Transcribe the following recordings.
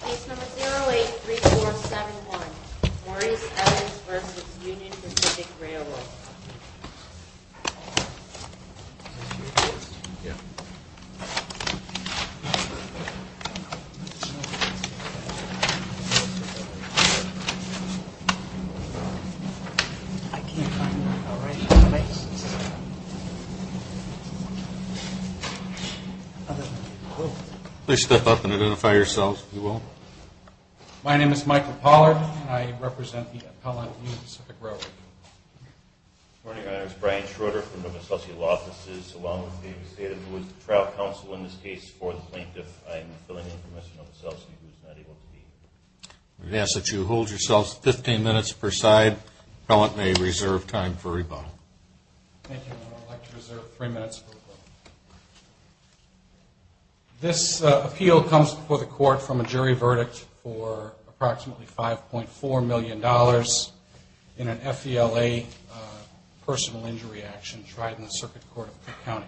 Place number 083471. Maurice Evans v. Union Pacific Railroad. My name is Michael Pollard and I represent the appellant at Union Pacific Railroad. Good morning, Your Honor. It's Brian Schroeder from Nova Selsky Law Offices, along with David Seda, who is the trial counsel in this case for the plaintiff. I'm filling in for Mr. Nova Selsky, who is not able to speak. I'm going to ask that you hold yourselves 15 minutes per side. The appellant may reserve time for rebuttal. Thank you, Your Honor. I'd like to reserve three minutes for rebuttal. This appeal comes before the court from a jury verdict for approximately $5.4 million in an FELA personal injury action tried in the Circuit Court of Cook County.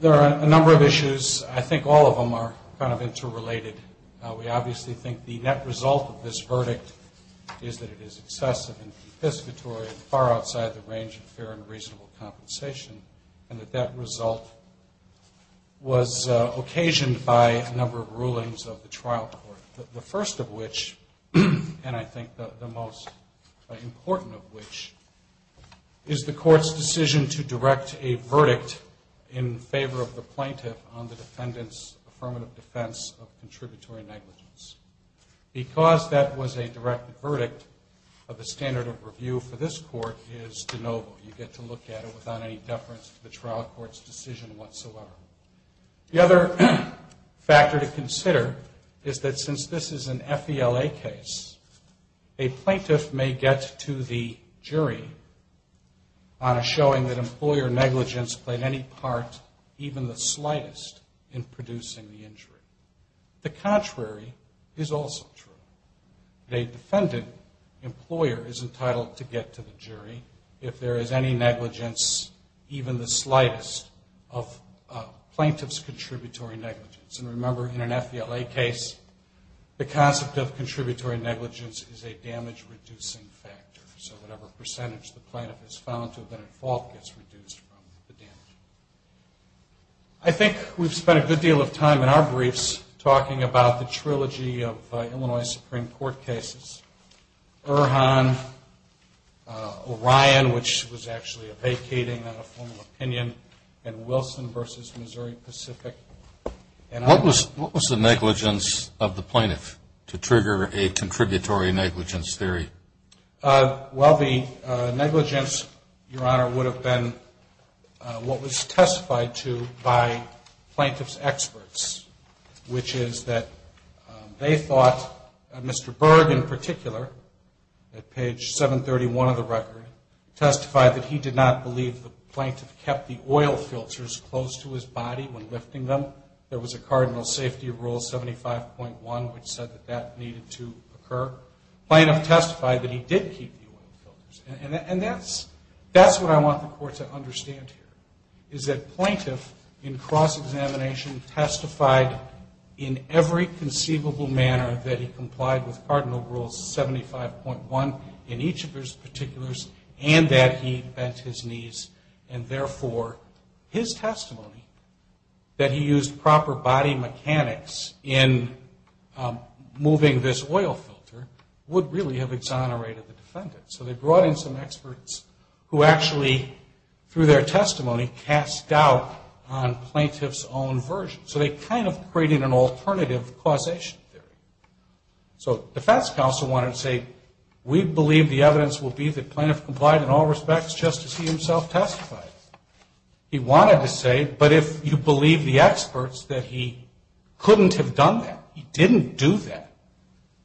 There are a number of issues. I think all of them are kind of interrelated. We obviously think the net result of this verdict is that it is excessive and confiscatory and far outside the range of fair and reasonable compensation, and that that result was occasioned by a number of rulings of the trial court. The first of which, and I think the most important of which, is the court's decision to direct a verdict in favor of the plaintiff on the defendant's affirmative defense of contributory negligence. Because that was a direct verdict of the standard of review for this court, you get to look at it without any deference to the trial court's decision whatsoever. The other factor to consider is that since this is an FELA case, a plaintiff may get to the jury on a showing that employer negligence played any part, even the slightest, in producing the injury. The contrary is also true. A defendant employer is entitled to get to the jury if there is any negligence, even the slightest, of plaintiff's contributory negligence. And remember, in an FELA case, the concept of contributory negligence is a damage reducing factor. So whatever percentage the plaintiff has found to have been at fault gets reduced from the damage. I think we've spent a good deal of time in our briefs talking about the trilogy of Illinois Supreme Court cases, Irhan, Orion, which was actually a vacating on a formal opinion, and Wilson v. Missouri Pacific. What was the negligence of the plaintiff to trigger a contributory negligence theory? Well, the negligence, Your Honor, would have been what was testified to by plaintiff's experts, which is that they thought Mr. Berg, in particular, at page 731 of the record, testified that he did not believe the plaintiff kept the oil filters close to his body when lifting them. There was a Cardinal Safety Rule 75.1, which said that that needed to occur. Plaintiff testified that he did keep the oil filters. And that's what I want the Court to understand here, is that plaintiff, in cross-examination, testified in every conceivable manner that he complied with Cardinal Rule 75.1 in each of his particulars, and that he bent his knees. And therefore, his testimony that he used proper body mechanics in moving this oil filter would really have exonerated the defendant. So they brought in some experts who actually, through their testimony, cast doubt on plaintiff's own version. So they kind of created an alternative causation theory. So defense counsel wanted to say, we believe the evidence will be that plaintiff complied in all respects just as he himself testified. He wanted to say, but if you believe the experts that he couldn't have done that, he didn't do that,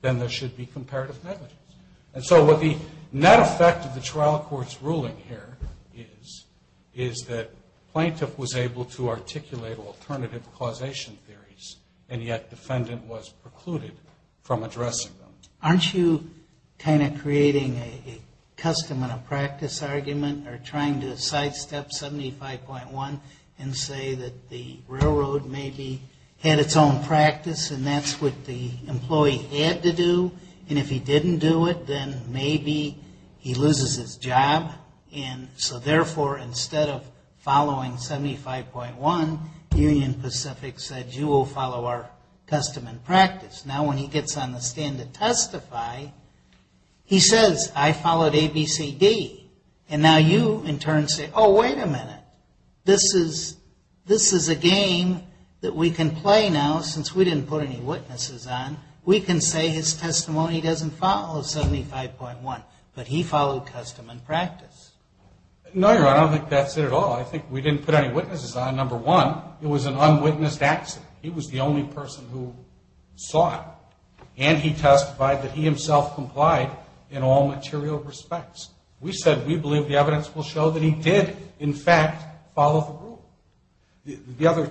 then there should be comparative evidence. And so what the net effect of the trial court's ruling here is, is that plaintiff was able to articulate alternative causation theories, and yet defendant was precluded from addressing them. Aren't you kind of creating a custom and a practice argument, or trying to sidestep 75.1 and say that the railroad maybe had its own practice and that's what the employee had to do, and if he didn't do it, then maybe he loses his job? And so therefore, instead of following 75.1, Union Pacific said, you will follow our custom and practice. Now when he gets on the stand to testify, he says, I followed ABCD. And now you, in turn, say, oh, wait a minute. This is a game that we can play now since we didn't put any witnesses on. We can say his testimony doesn't follow 75.1, but he followed custom and practice. No, Your Honor, I don't think that's it at all. I think we didn't put any witnesses on, number one. It was an unwitnessed accident. He was the only person who saw it. And he testified that he himself complied in all material respects. We said we believe the evidence will show that he did, in fact, follow the rule. The other,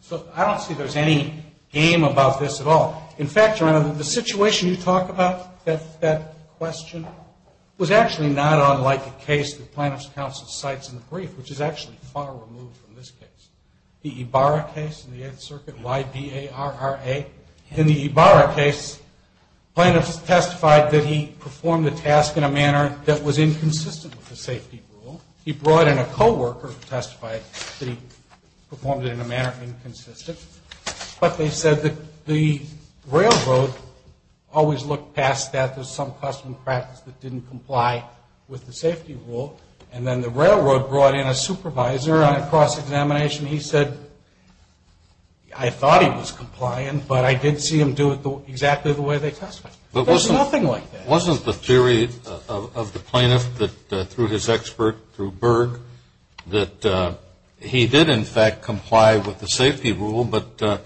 so I don't see there's any game about this at all. In fact, Your Honor, the situation you talk about, that question, was actually not unlike the case the plaintiff's counsel cites in the brief, which is actually far removed from this case. The Ibarra case in the Eighth Circuit, Y-B-A-R-R-A. In the Ibarra case, plaintiffs testified that he performed the task in a manner that was inconsistent with the safety rule. He brought in a co-worker to testify that he performed it in a manner inconsistent. But they said that the railroad always looked past that. There's some custom practice that didn't comply with the safety rule. And then the railroad brought in a supervisor on a cross-examination. He said, I thought he was complying, but I did see him do it exactly the way they testified. There's nothing like that. Wasn't the theory of the plaintiff that through his expert, through Berg, that he did, in fact, comply with the safety rule, but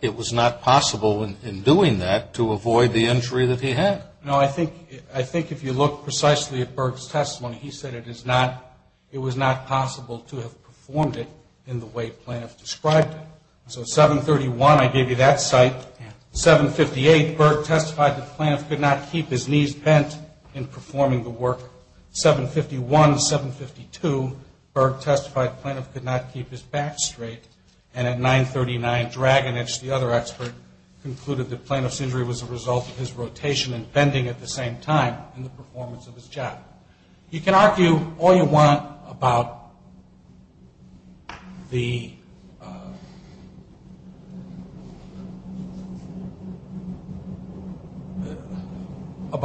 it was not possible in doing that to avoid the injury that he had? No. I think if you look precisely at Berg's testimony, he said it was not possible to have performed it in the way the plaintiff described it. So at 731, I gave you that cite. At 758, Berg testified that the plaintiff could not keep his knees bent in performing the work. 751, 752, Berg testified the plaintiff could not keep his back straight. And at 939, Dragonich, the other expert, concluded that plaintiff's injury was a result of his rotation and bending at the same time in the performance of his job. You can argue all you want about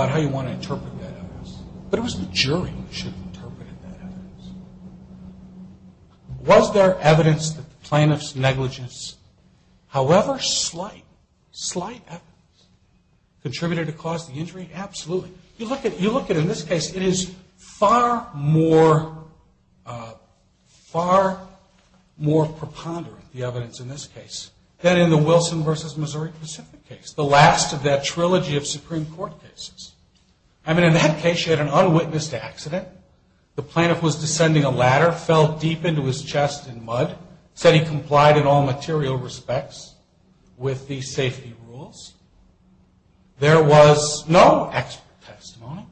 how you want to interpret that evidence, but it was the jury who should have interpreted that evidence. Was there evidence that the plaintiff's negligence, however slight, contributed to cause the injury? Absolutely. You look at, in this case, it is far more preponderant, the evidence in this case, than in the Wilson versus Missouri Pacific case, the last of that trilogy of Supreme Court cases. The plaintiff was descending a ladder, fell deep into his chest in mud, said he complied in all material respects with the safety rules. There was no expert testimony.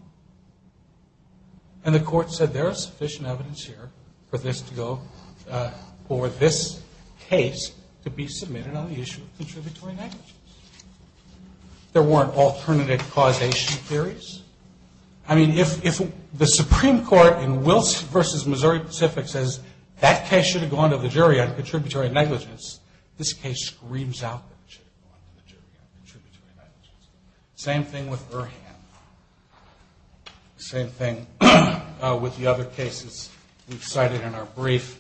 And the court said there is sufficient evidence here for this case to be submitted on the issue of contributory negligence. There weren't alternative causation theories. I mean, if the Supreme Court in Wilson versus Missouri Pacific says, that case should have gone to the jury on contributory negligence, this case screams out that it should have gone to the jury on contributory negligence. Same thing with Erhan. Same thing with the other cases we've cited in our brief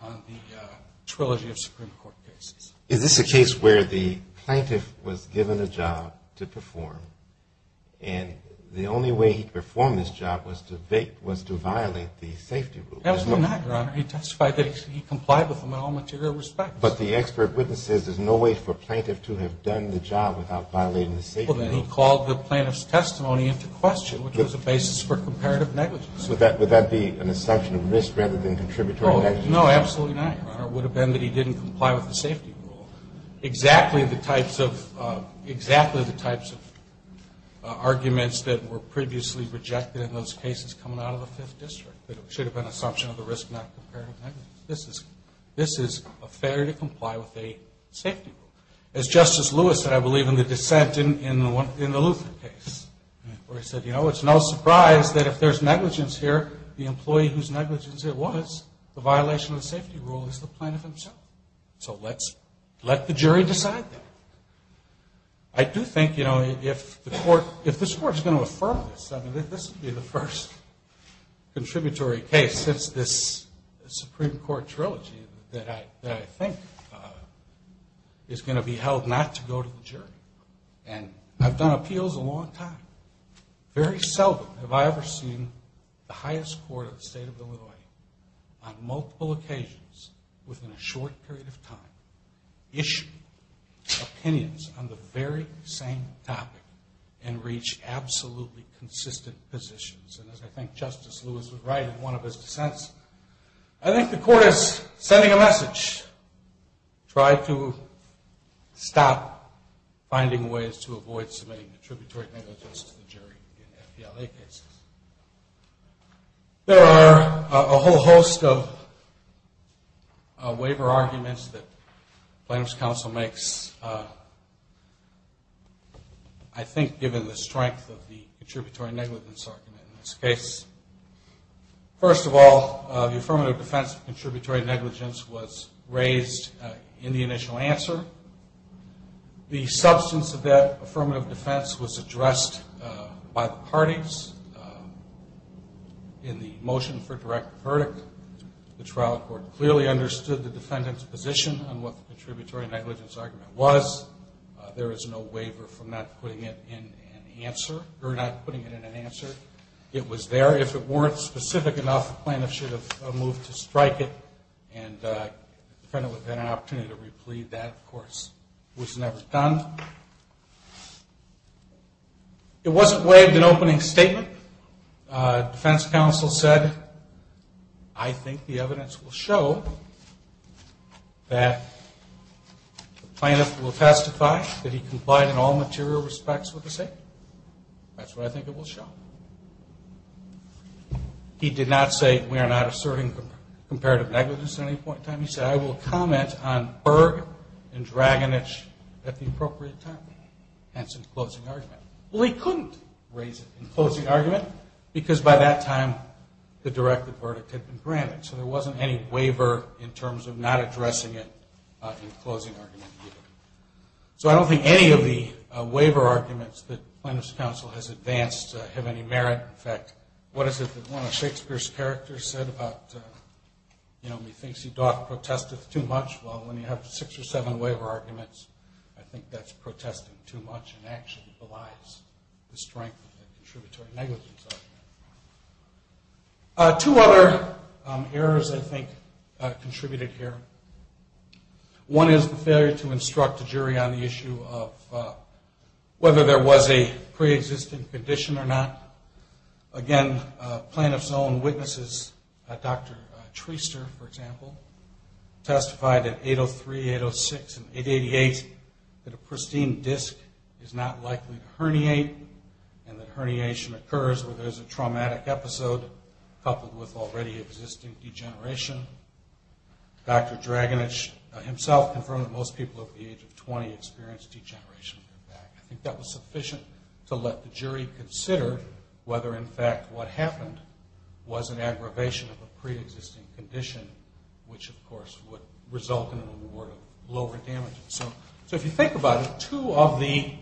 on the trilogy of Supreme Court cases. Is this a case where the plaintiff was given a job to perform, and the only way he performed his job was to violate the safety rules? Absolutely not, Your Honor. He testified that he complied with them in all material respects. But the expert witness says there's no way for a plaintiff to have done the job without violating the safety rules. Well, then he called the plaintiff's testimony into question, which was a basis for comparative negligence. Would that be an assumption of risk rather than contributory negligence? No, absolutely not, Your Honor. It would have been that he didn't comply with the safety rule. Exactly the types of arguments that were previously rejected in those cases coming out of the Fifth District. It should have been an assumption of the risk, not comparative negligence. This is a failure to comply with a safety rule. As Justice Lewis said, I believe, in the dissent in the Luther case, where he said, you know, it's no surprise that if there's negligence here, the employee whose negligence it was, the violation of the safety rule, is the plaintiff himself. So let's let the jury decide that. I do think, you know, if this Court is going to affirm this, this would be the first contributory case since this Supreme Court trilogy that I think is going to be held not to go to the jury. And I've done appeals a long time. Very seldom have I ever seen the highest court of the State of Illinois on multiple occasions within a short period of time issue opinions on the very same topic and reach absolutely consistent positions. And as I think Justice Lewis was right in one of his dissents, I think the Court is sending a message. Try to stop finding ways to avoid submitting contributory negligence to the jury in the MPLA cases. There are a whole host of waiver arguments that Plaintiff's Counsel makes, I think given the strength of the contributory negligence argument in this case. First of all, the affirmative defense of contributory negligence was raised in the initial answer. The substance of that affirmative defense was addressed by the parties. In the motion for direct verdict, the trial court clearly understood the defendant's position on what the contributory negligence argument was. There is no waiver for not putting it in an answer. It was there. If it weren't specific enough, the plaintiff should have moved to strike it and the defendant would have had an opportunity to replead. That, of course, was never done. It wasn't waived in opening statement. Defense Counsel said, I think the evidence will show that the plaintiff will testify that he complied in all material respects with the statement. That's what I think it will show. He did not say, we are not asserting comparative negligence at any point in time. He said, I will comment on Berg and Dragonich at the appropriate time. That's in closing argument. Well, he couldn't raise it in closing argument because by that time the direct verdict had been granted. So there wasn't any waiver in terms of not addressing it in closing argument. So I don't think any of the waiver arguments that Plaintiff's Counsel has advanced have any merit. In fact, what is it that one of Shakespeare's characters said about, he thinks he doth protesteth too much. Well, when you have six or seven waiver arguments, I think that's protesting too much and actually belies the strength of the contributory negligence argument. Two other errors, I think, contributed here. One is the failure to instruct the jury on the issue of whether there was a pre-existing condition or not. Again, Plaintiff's own witnesses, Dr. Treister, for example, testified that 803, 806, and 888, that a pristine disc is not likely to herniate and that herniation occurs where there is a traumatic episode coupled with already existing degeneration. Dr. Draganich himself confirmed that most people over the age of 20 experienced degeneration in their back. I think that was sufficient to let the jury consider whether, in fact, what happened was an aggravation of a pre-existing condition, which, of course, would result in a reward of lower damages. So if you think about it, two of the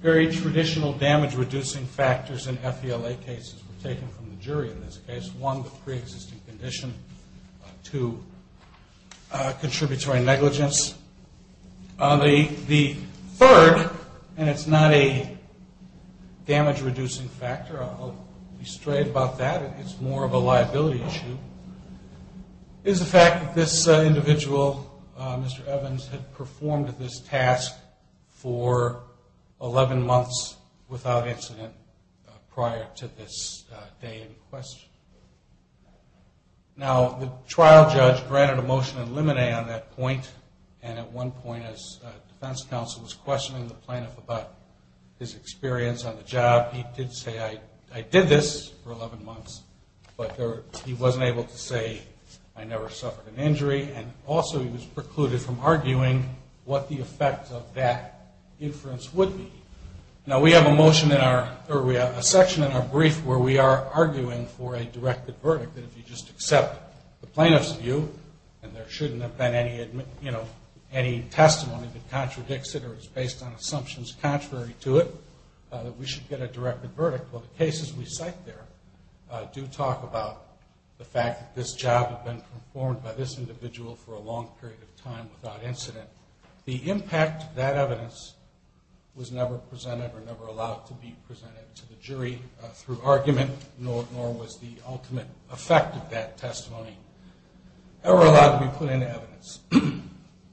very traditional damage-reducing factors in FELA cases were taken from the jury in this case, one, the pre-existing condition, two, contributory negligence. The third, and it's not a damage-reducing factor, I'll be straight about that, it's more of a liability issue, is the fact that this individual, Mr. Evans, had performed this task for 11 months without incident prior to this day in question. Now, the trial judge granted a motion in limine on that point, and at one point his defense counsel was questioning the plaintiff about his experience on the job. He did say, I did this for 11 months, but he wasn't able to say, I never suffered an injury, and also he was precluded from arguing what the effect of that inference would be. Now, we have a section in our brief where we are arguing for a directed verdict that if you just accept the plaintiff's view, and there shouldn't have been any testimony that contradicts it or is based on assumptions contrary to it, that we should get a directed verdict. Well, the cases we cite there do talk about the fact that this job had been performed by this individual for a long period of time without incident. The impact of that evidence was never presented or never allowed to be presented to the jury through argument, nor was the ultimate effect of that testimony ever allowed to be put into evidence.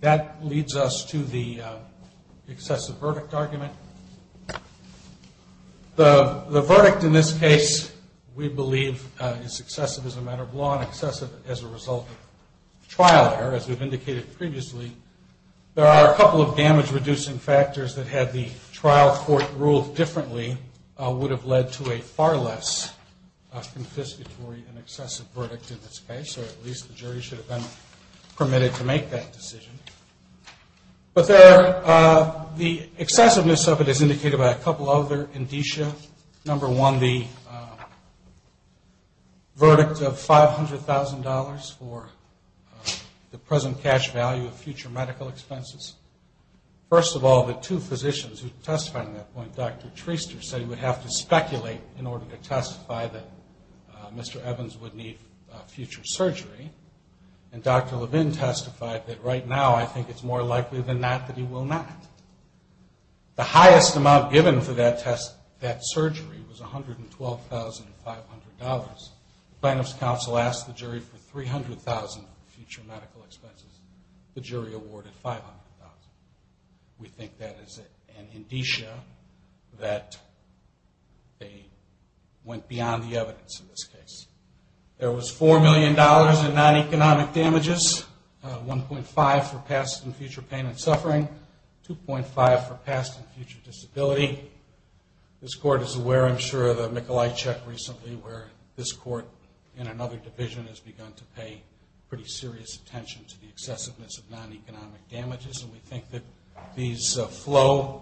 That leads us to the excessive verdict argument. The verdict in this case, we believe, is excessive as a matter of law and excessive as a result of trial error, as we've indicated previously. There are a couple of damage-reducing factors that had the trial court ruled differently would have led to a far less confiscatory and excessive verdict in this case, or at least the jury should have been permitted to make that decision. But the excessiveness of it is indicated by a couple other indicia. Number one, the verdict of $500,000 for the present cash value of future medical expenses. First of all, the two physicians who testified on that point, Dr. Treister said he would have to speculate in order to testify that Mr. Evans would need future surgery, and Dr. Levin testified that right now I think it's more likely than not that he will not. The highest amount given for that surgery was $112,500. The plaintiff's counsel asked the jury for $300,000 of future medical expenses. The jury awarded $500,000. We think that is an indicia that they went beyond the evidence in this case. There was $4 million in non-economic damages, $1.5 million for past and future pain and suffering, $2.5 million for past and future disability. This Court is aware, I'm sure, of the Mikolaj Czech recently, where this Court in another division has begun to pay pretty serious attention to the excessiveness of non-economic damages, and we think that these flow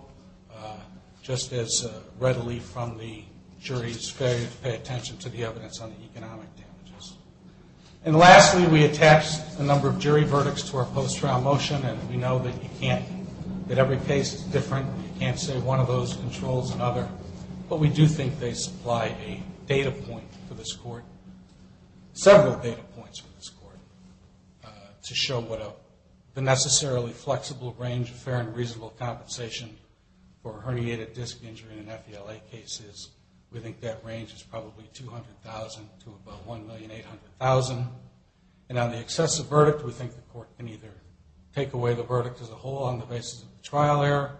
just as readily from the jury's failure to pay attention to the evidence on the economic damages. And lastly, we attached the number of jury verdicts to our post-trial motion, and we know that you can't, that every case is different. You can't say one of those controls another, but we do think they supply a data point for this Court, several data points for this Court, to show what the necessarily flexible range of fair and reasonable compensation for a herniated disc injury in an FELA case is. We think that range is probably $200,000 to about $1,800,000. And on the excessive verdict, we think the Court can either take away the verdict as a whole on the basis of trial error,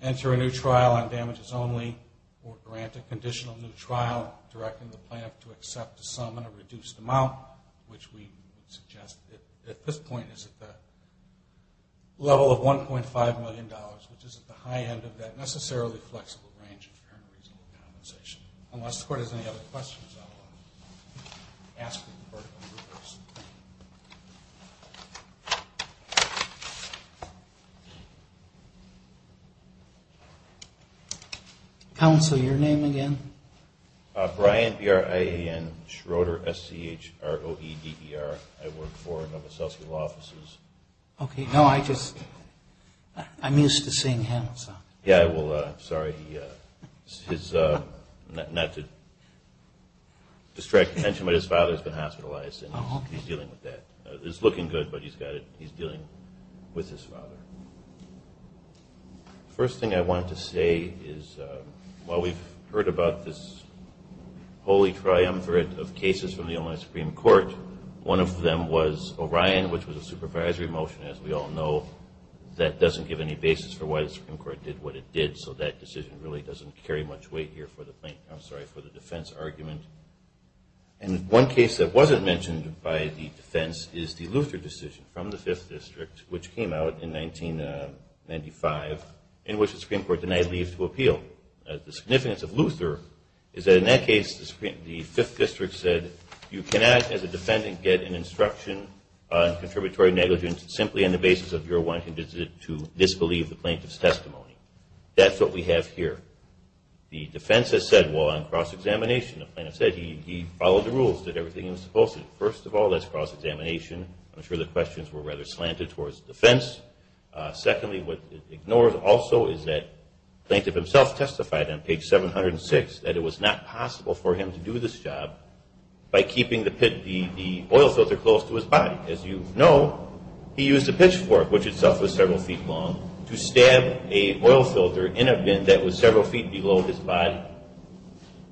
enter a new trial on damages only, or grant a conditional new trial, directing the plaintiff to accept a sum in a reduced amount, which we suggest at this point is at the level of $1.5 million, which is at the high end of that necessarily flexible range of fair and reasonable compensation. Unless the Court has any other questions, I will ask for the verdict in reverse. Counsel, your name again? Brian Schroeder, S-C-H-R-O-E-D-E-R. I work for one of the associate law offices. Okay. No, I just, I'm used to seeing him, so. Yeah, well, I'm sorry, not to distract attention, but his father's been hospitalized, and he's dealing with that. It's looking good, but he's got it, he's dealing with his father. First thing I want to say is while we've heard about this holy triumvirate of cases from the Illinois Supreme Court, one of them was Orion, which was a supervisory motion, as we all know. That doesn't give any basis for why the Supreme Court did what it did, so that decision really doesn't carry much weight here for the defense argument. And one case that wasn't mentioned by the defense is the Luther decision from the Fifth District, which came out in 1995, in which the Supreme Court denied leave to appeal. The significance of Luther is that in that case the Fifth District said, you cannot, as a defendant, get an instruction on contributory negligence simply on the basis of your wanting to disbelieve the plaintiff's testimony. That's what we have here. The defense has said, well, on cross-examination, the plaintiff said, he followed the rules, did everything he was supposed to. First of all, that's cross-examination. I'm sure the questions were rather slanted towards defense. Secondly, what it ignores also is that the plaintiff himself testified on page 706 that it was not possible for him to do this job by keeping the oil filter close to his body. As you know, he used a pitchfork, which itself was several feet long, to stab a oil filter in a bin that was several feet below his body.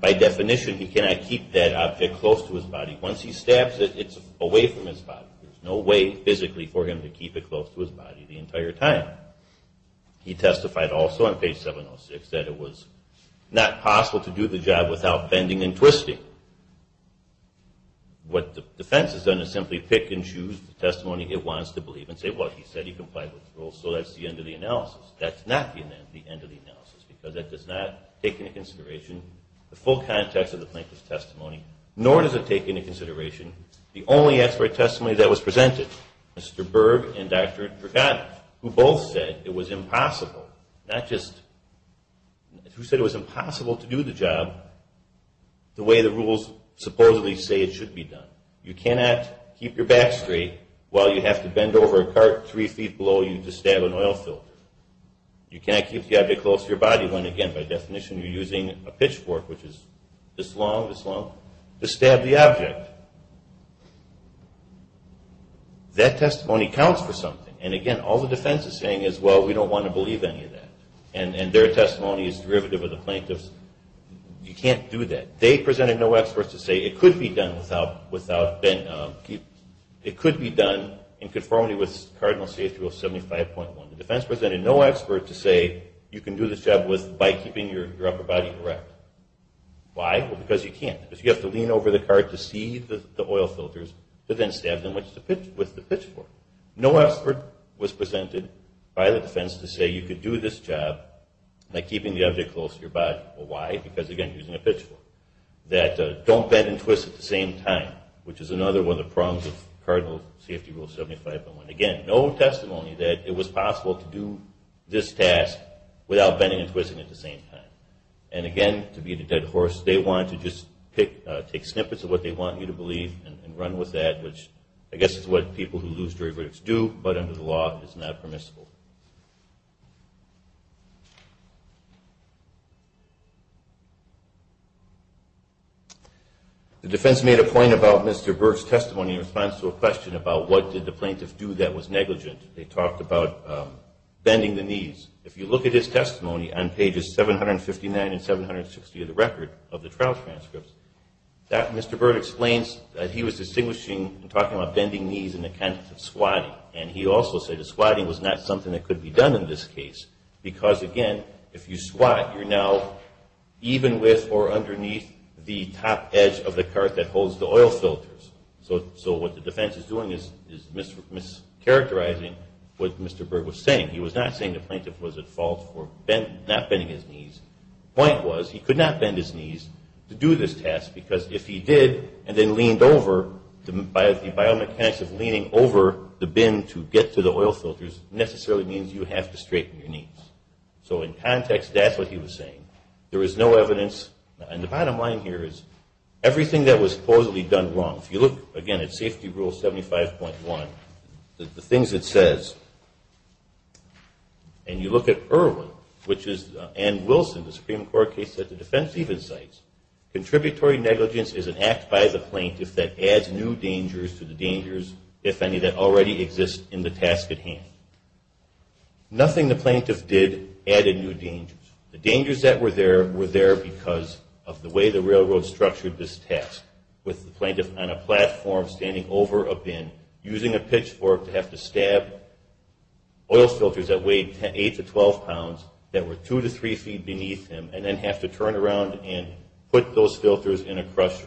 By definition, he cannot keep that object close to his body. Once he stabs it, it's away from his body. There's no way physically for him to keep it close to his body the entire time. He testified also on page 706 that it was not possible to do the job without bending and twisting. What the defense has done is simply pick and choose the testimony it wants to believe and say, well, he said he complied with the rules, so that's the end of the analysis. That's not the end of the analysis because that does not take into consideration the full context of the plaintiff's testimony, nor does it take into consideration the only expert testimony that was presented, Mr. Berg and Dr. Vergata, who both said it was impossible, not just, who said it was impossible to do the job the way the rules supposedly say it should be done. You cannot keep your back straight while you have to bend over a cart three feet below you to stab an oil filter. You cannot keep the object close to your body when, again, by definition, you're using a pitchfork, which is this long, this long, to stab the object. That testimony counts for something, and again, all the defense is saying is, well, we don't want to believe any of that, and their testimony is derivative of the plaintiff's. You can't do that. They presented no experts to say it could be done in conformity with Cardinal Safety Rule 75.1. The defense presented no expert to say you can do this job by keeping your upper body erect. Why? Well, because you can't. If you have to lean over the cart to see the oil filters, but then stab them with the pitchfork. No expert was presented by the defense to say you could do this job by keeping the object close to your body. Well, why? Because, again, using a pitchfork. That don't bend and twist at the same time, which is another one of the prongs of Cardinal Safety Rule 75.1. Again, no testimony that it was possible to do this task without bending and twisting at the same time. And, again, to beat a dead horse, they want to just take snippets of what they want you to believe and run with that, which I guess is what people who lose jury verdicts do, but under the law it's not permissible. The defense made a point about Mr. Burke's testimony in response to a question about what did the plaintiff do that was negligent. They talked about bending the knees. If you look at his testimony on pages 759 and 760 of the record of the trial transcripts, Mr. Burke explains that he was distinguishing and talking about bending knees in the context of squatting. And he also said that squatting was not something that could be done in this case because, again, if you squat, you're now even with or underneath the top edge of the cart that holds the oil filters. So what the defense is doing is mischaracterizing what Mr. Burke was saying. He was not saying the plaintiff was at fault for not bending his knees. The point was he could not bend his knees to do this task because if he did and then leaned over, the biomechanics of leaning over the bin to get to the oil filters necessarily means you have to straighten your knees. So in context, that's what he was saying. There was no evidence, and the bottom line here is everything that was supposedly done wrong, if you look, again, at Safety Rule 75.1, the things it says, and you look at Irwin, which is Ann Wilson, the Supreme Court case that the defense even cites, contributory negligence is an act by the plaintiff that adds new dangers to the dangers, if any, that already exist in the task at hand. Nothing the plaintiff did added new dangers. The dangers that were there were there because of the way the railroad structured this task with the plaintiff on a platform standing over a bin, using a pitchfork to have to stab oil filters that weighed 8 to 12 pounds that were 2 to 3 feet beneath him and then have to turn around and put those filters in a crusher.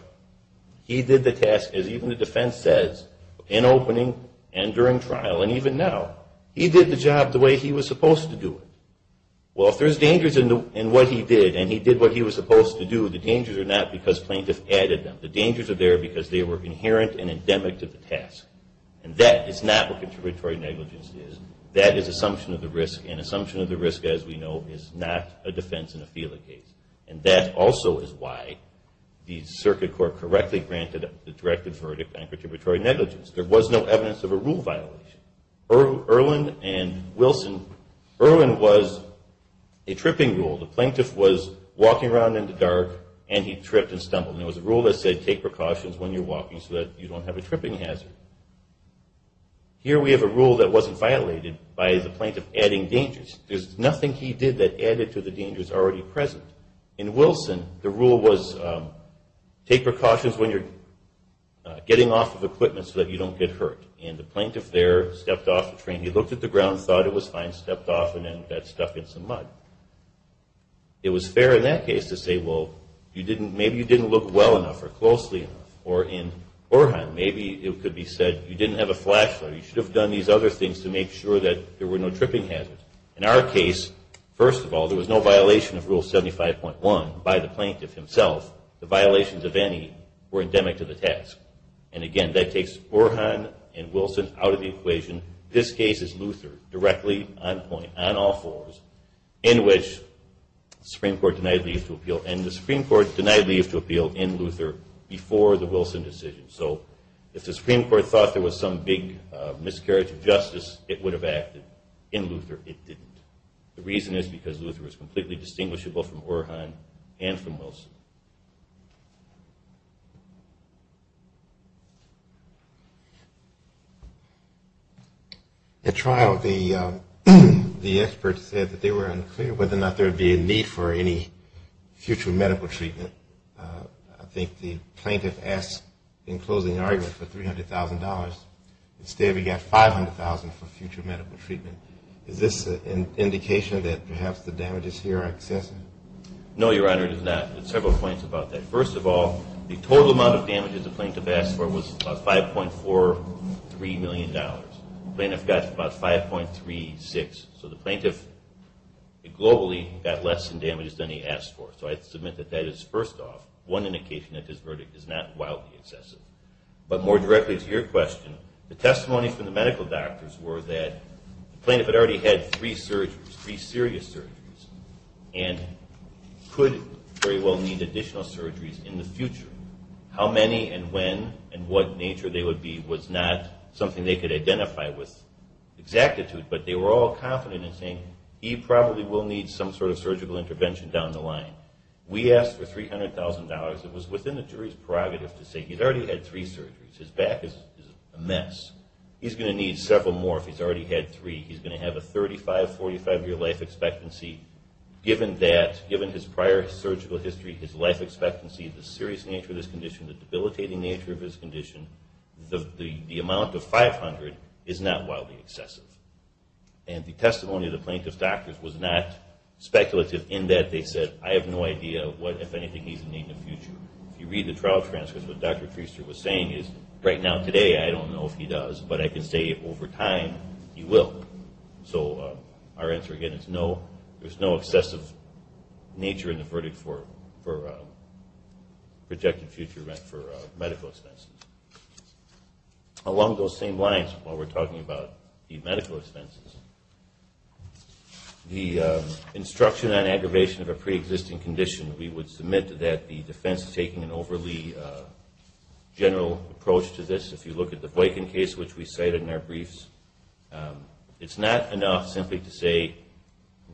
He did the task, as even the defense says, in opening and during trial and even now. He did the job the way he was supposed to do it. Well, if there's dangers in what he did and he did what he was supposed to do, the dangers are not because plaintiff added them. The dangers are there because they were inherent and endemic to the task. And that is not what contributory negligence is. That is assumption of the risk, and assumption of the risk, as we know, is not a defense in a FELA case. And that also is why the Circuit Court correctly granted the directive for verdict on contributory negligence. There was no evidence of a rule violation. Irwin and Wilson, Irwin was a tripping rule. The plaintiff was walking around in the dark and he tripped and stumbled. And there was a rule that said take precautions when you're walking so that you don't have a tripping hazard. Here we have a rule that wasn't violated by the plaintiff adding dangers. There's nothing he did that added to the dangers already present. In Wilson, the rule was take precautions when you're getting off of equipment so that you don't get hurt. And the plaintiff there stepped off the train. He looked at the ground, thought it was fine, stepped off, and then got stuck in some mud. It was fair in that case to say, well, maybe you didn't look well enough or closely enough. Or in Orhan, maybe it could be said you didn't have a flashlight. You should have done these other things to make sure that there were no tripping hazards. In our case, first of all, there was no violation of Rule 75.1 by the plaintiff himself. The violations of any were endemic to the task. And, again, that takes Orhan and Wilson out of the equation. This case is Luther directly on point, on all fours, in which the Supreme Court denied leave to appeal. And the Supreme Court denied leave to appeal in Luther before the Wilson decision. So if the Supreme Court thought there was some big miscarriage of justice, it would have acted. In Luther, it didn't. The reason is because Luther was completely distinguishable from Orhan and from Wilson. At trial, the experts said that they were unclear whether or not there would be a need for any future medical treatment. I think the plaintiff asked, in closing argument, for $300,000. Instead, we got $500,000 for future medical treatment. Is this an indication that perhaps the damages here are excessive? No, Your Honor, it is not. First of all, the total amount of damages the plaintiff asked for was about $5.43 million. The plaintiff got about $5.36 million. So the plaintiff, globally, got less in damages than he asked for. So I submit that that is, first off, one indication that this verdict is not wildly excessive. But more directly to your question, the testimony from the medical doctors were that the plaintiff had already had three serious surgeries and could very well need additional surgeries in the future. How many and when and what nature they would be was not something they could identify with exactitude, but they were all confident in saying, he probably will need some sort of surgical intervention down the line. We asked for $300,000. It was within the jury's prerogative to say, he's already had three surgeries. His back is a mess. He's going to need several more if he's already had three. He's going to have a 35, 45-year life expectancy. Given that, given his prior surgical history, his life expectancy, the serious nature of his condition, the debilitating nature of his condition, the amount of $500,000 is not wildly excessive. And the testimony of the plaintiff's doctors was not speculative in that they said, I have no idea what, if anything, he's going to need in the future. If you read the trial transcripts, what Dr. Treister was saying is, right now, today, I don't know if he does, but I can say, over time, he will. So our answer, again, is no. There's no excessive nature in the verdict for projected future medical expenses. Along those same lines, while we're talking about the medical expenses, the instruction on aggravation of a preexisting condition, we would submit that the defense is taking an overly general approach to this. If you look at the Boykin case, which we cited in our briefs, it's not enough simply to say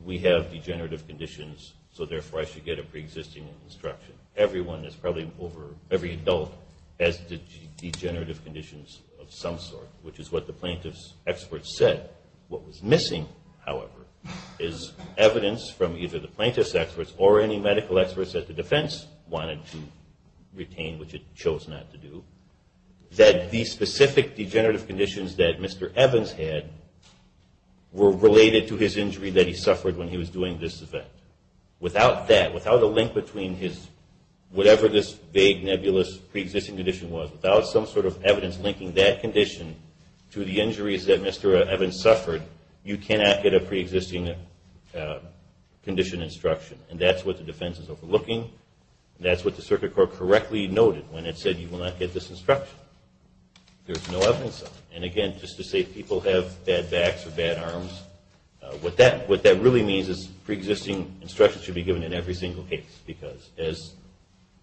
we have degenerative conditions, so therefore I should get a preexisting instruction. Everyone is probably over, every adult has degenerative conditions of some sort, which is what the plaintiff's experts said. What was missing, however, is evidence from either the plaintiff's experts or any medical experts that the defense wanted to retain, which it chose not to do, that the specific degenerative conditions that Mr. Evans had were related to his injury that he suffered when he was doing this event. Without that, without a link between his, whatever this vague nebulous preexisting condition was, without some sort of evidence linking that condition to the injuries that Mr. Evans suffered, you cannot get a preexisting condition instruction. And that's what the defense is overlooking, and that's what the Circuit Court correctly noted when it said you will not get this instruction. There's no evidence of it. And again, just to say people have bad backs or bad arms, what that really means is preexisting instructions should be given in every single case because as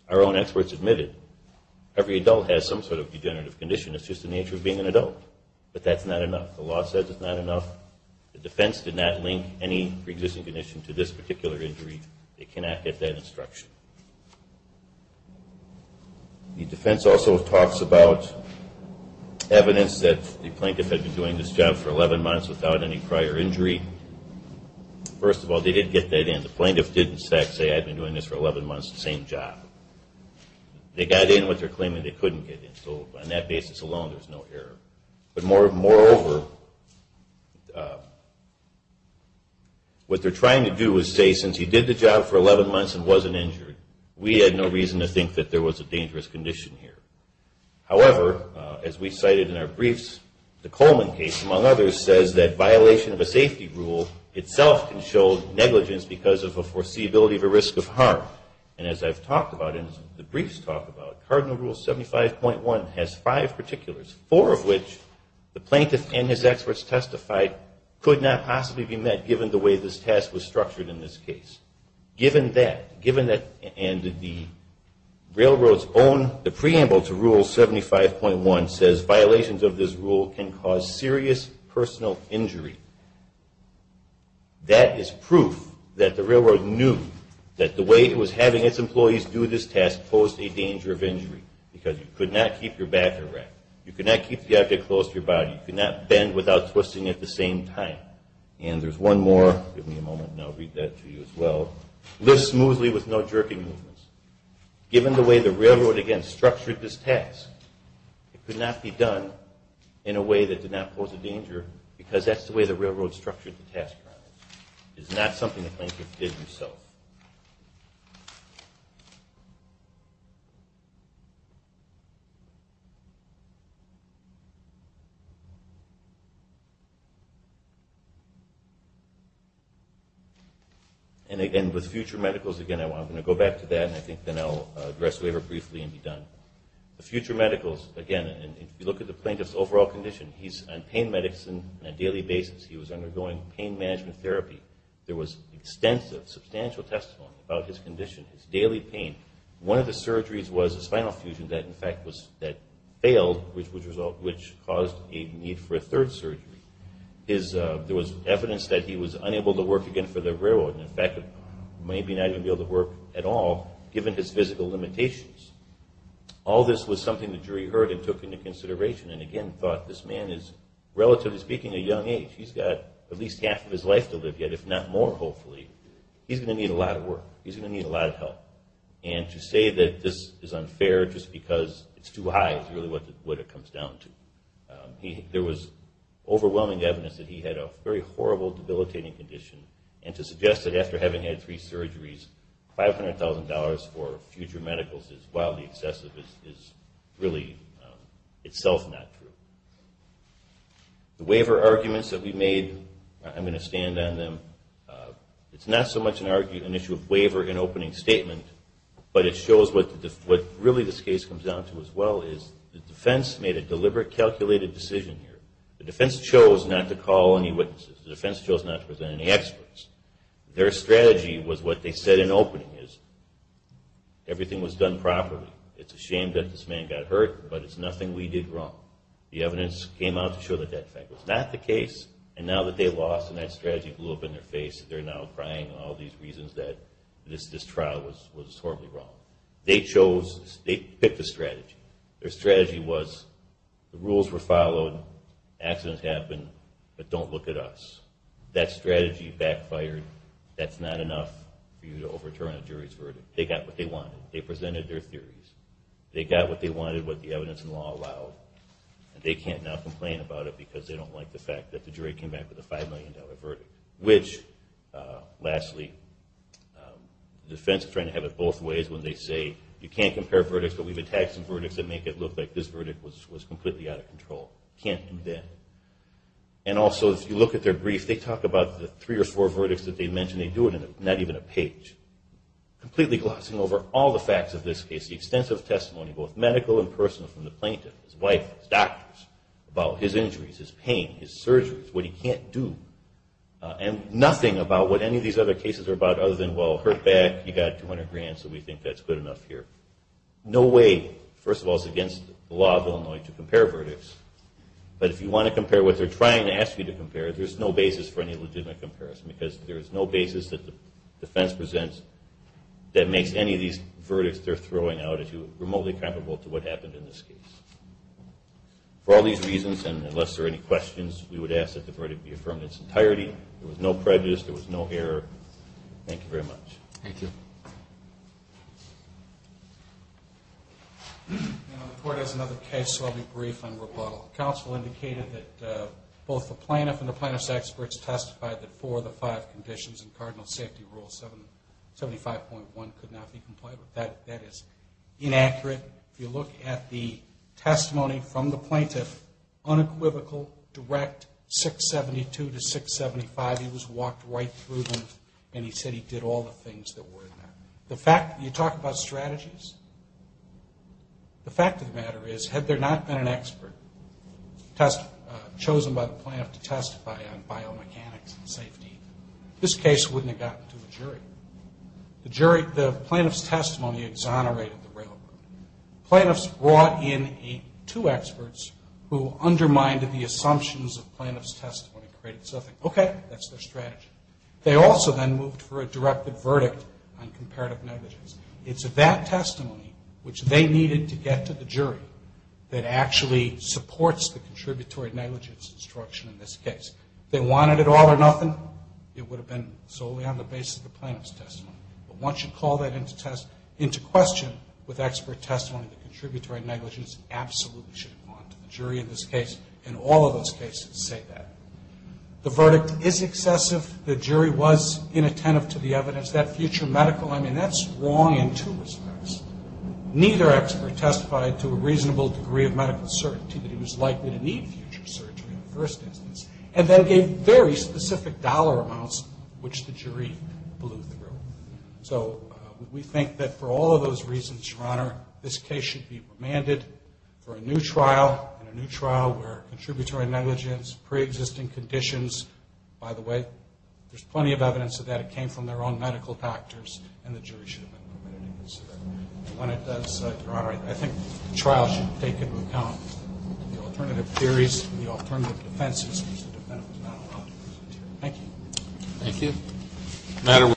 our own experts admitted, every adult has some sort of degenerative condition. It's just the nature of being an adult. But that's not enough. The law says it's not enough. The defense did not link any preexisting condition to this particular injury. They cannot get that instruction. The defense also talks about evidence that the plaintiff had been doing this job for 11 months without any prior injury. First of all, they did get that in. The plaintiff didn't say, I've been doing this for 11 months, same job. They got in with their claim that they couldn't get in. So on that basis alone, there's no error. But moreover, what they're trying to do is say since he did the job for 11 months and wasn't injured, we had no reason to think that there was a dangerous condition here. However, as we cited in our briefs, the Coleman case, among others, says that violation of a safety rule itself can show negligence because of a foreseeability of a risk of harm. And as I've talked about and the briefs talk about, Cardinal Rule 75.1 has five particulars, four of which the plaintiff and his experts testified could not possibly be met given the way this task was structured in this case. Given that, and the railroad's own, the preamble to Rule 75.1 says, violations of this rule can cause serious personal injury. That is proof that the railroad knew that the way it was having its employees do this task posed a danger of injury because you could not keep your back erect. You could not keep the object close to your body. You could not bend without twisting at the same time. And there's one more. Give me a moment and I'll read that to you as well. Lift smoothly with no jerking movements. Given the way the railroad, again, structured this task, it could not be done in a way that did not pose a danger because that's the way the railroad structured the task around it. It is not something the plaintiff did himself. And again, with future medicals, again, I'm going to go back to that and I think then I'll address waiver briefly and be done. The future medicals, again, if you look at the plaintiff's overall condition, he's on pain medicine on a daily basis. He was undergoing pain management therapy. There was extensive, substantial testimony about his condition, his daily pain. One of the surgeries was a spinal fusion that, in fact, failed, which caused a need for a third surgery. There was evidence that he was unable to work again for the railroad. In fact, maybe not even be able to work at all given his physical limitations. All this was something the jury heard and took into consideration and again thought this man is, relatively speaking, a young age. He's got at least half of his life to live yet, if not more, hopefully. He's going to need a lot of work. He's going to need a lot of help. And to say that this is unfair just because it's too high is really what it comes down to. There was overwhelming evidence that he had a very horrible debilitating condition and to suggest that after having had three surgeries, $500,000 for future medicals is wildly excessive is really itself not true. The waiver arguments that we made, I'm going to stand on them. It's not so much an issue of waiver in opening statement, but it shows what really this case comes down to as well, is the defense made a deliberate, calculated decision here. The defense chose not to call any witnesses. The defense chose not to present any experts. Their strategy was what they said in opening, is everything was done properly. It's a shame that this man got hurt, but it's nothing we did wrong. The evidence came out to show that that fact was not the case and now that they lost and that strategy blew up in their face, they're now crying all these reasons that this trial was horribly wrong. They chose, they picked a strategy. Their strategy was the rules were followed, accidents happened, but don't look at us. That strategy backfired. That's not enough for you to overturn a jury's verdict. They got what they wanted. They presented their theories. They got what they wanted, what the evidence and law allowed, and they can't now complain about it because they don't like the fact that the jury came back with a $5 million verdict. Which, lastly, the defense is trying to have it both ways when they say, you can't compare verdicts, but we've attached some verdicts that make it look like this verdict was completely out of control. Can't do that. Also, if you look at their brief, they talk about the three or four verdicts that they mentioned. They do it in not even a page. Completely glossing over all the facts of this case, the extensive testimony, both medical and personal, from the plaintiff, his wife, his doctors, about his injuries, his pain, his surgeries, what he can't do, and nothing about what any of these other cases are about other than, well, hurt back, you got $200,000, so we think that's good enough here. No way. First of all, it's against the law of Illinois to compare verdicts, but if you want to compare what they're trying to ask you to compare, there's no basis for any legitimate comparison because there's no basis that the defense presents that makes any of these verdicts they're throwing out remotely comparable to what happened in this case. For all these reasons, and unless there are any questions, we would ask that the verdict be affirmed in its entirety. There was no prejudice. There was no error. Thank you very much. Thank you. The court has another case, so I'll be brief on rebuttal. Counsel indicated that both the plaintiff and the plaintiff's experts testified that four of the five conditions in Cardinal Safety Rule 75.1 could not be complied with. That is inaccurate. If you look at the testimony from the plaintiff, unequivocal, direct, 672 to 675, he walked right through them and he said he did all the things that were in there. You talk about strategies? The fact of the matter is, had there not been an expert chosen by the plaintiff to testify on biomechanics and safety, this case wouldn't have gotten to a jury. The plaintiff's testimony exonerated the realm. The plaintiff's brought in two experts who undermined the assumptions of They also then moved for a directed verdict on comparative negligence. It's that testimony, which they needed to get to the jury, that actually supports the contributory negligence instruction in this case. If they wanted it all or nothing, it would have been solely on the basis of the plaintiff's testimony. But once you call that into question with expert testimony, the contributory negligence absolutely should have gone to the jury in this case, and all of those cases say that. The verdict is excessive. The jury was inattentive to the evidence. That future medical, I mean, that's wrong in two respects. Neither expert testified to a reasonable degree of medical certainty that he was likely to need future surgery in the first instance, and then gave very specific dollar amounts, which the jury blew through. So we think that for all of those reasons, Your Honor, this case should be remanded for a new trial, where contributory negligence, preexisting conditions, by the way, there's plenty of evidence that it came from their own medical factors, and the jury should have been permitted to consider. And when it does, Your Honor, I think the trial should take into account the alternative theories and the alternative defenses, because the defendant was not allowed to present here. Thank you. Thank you.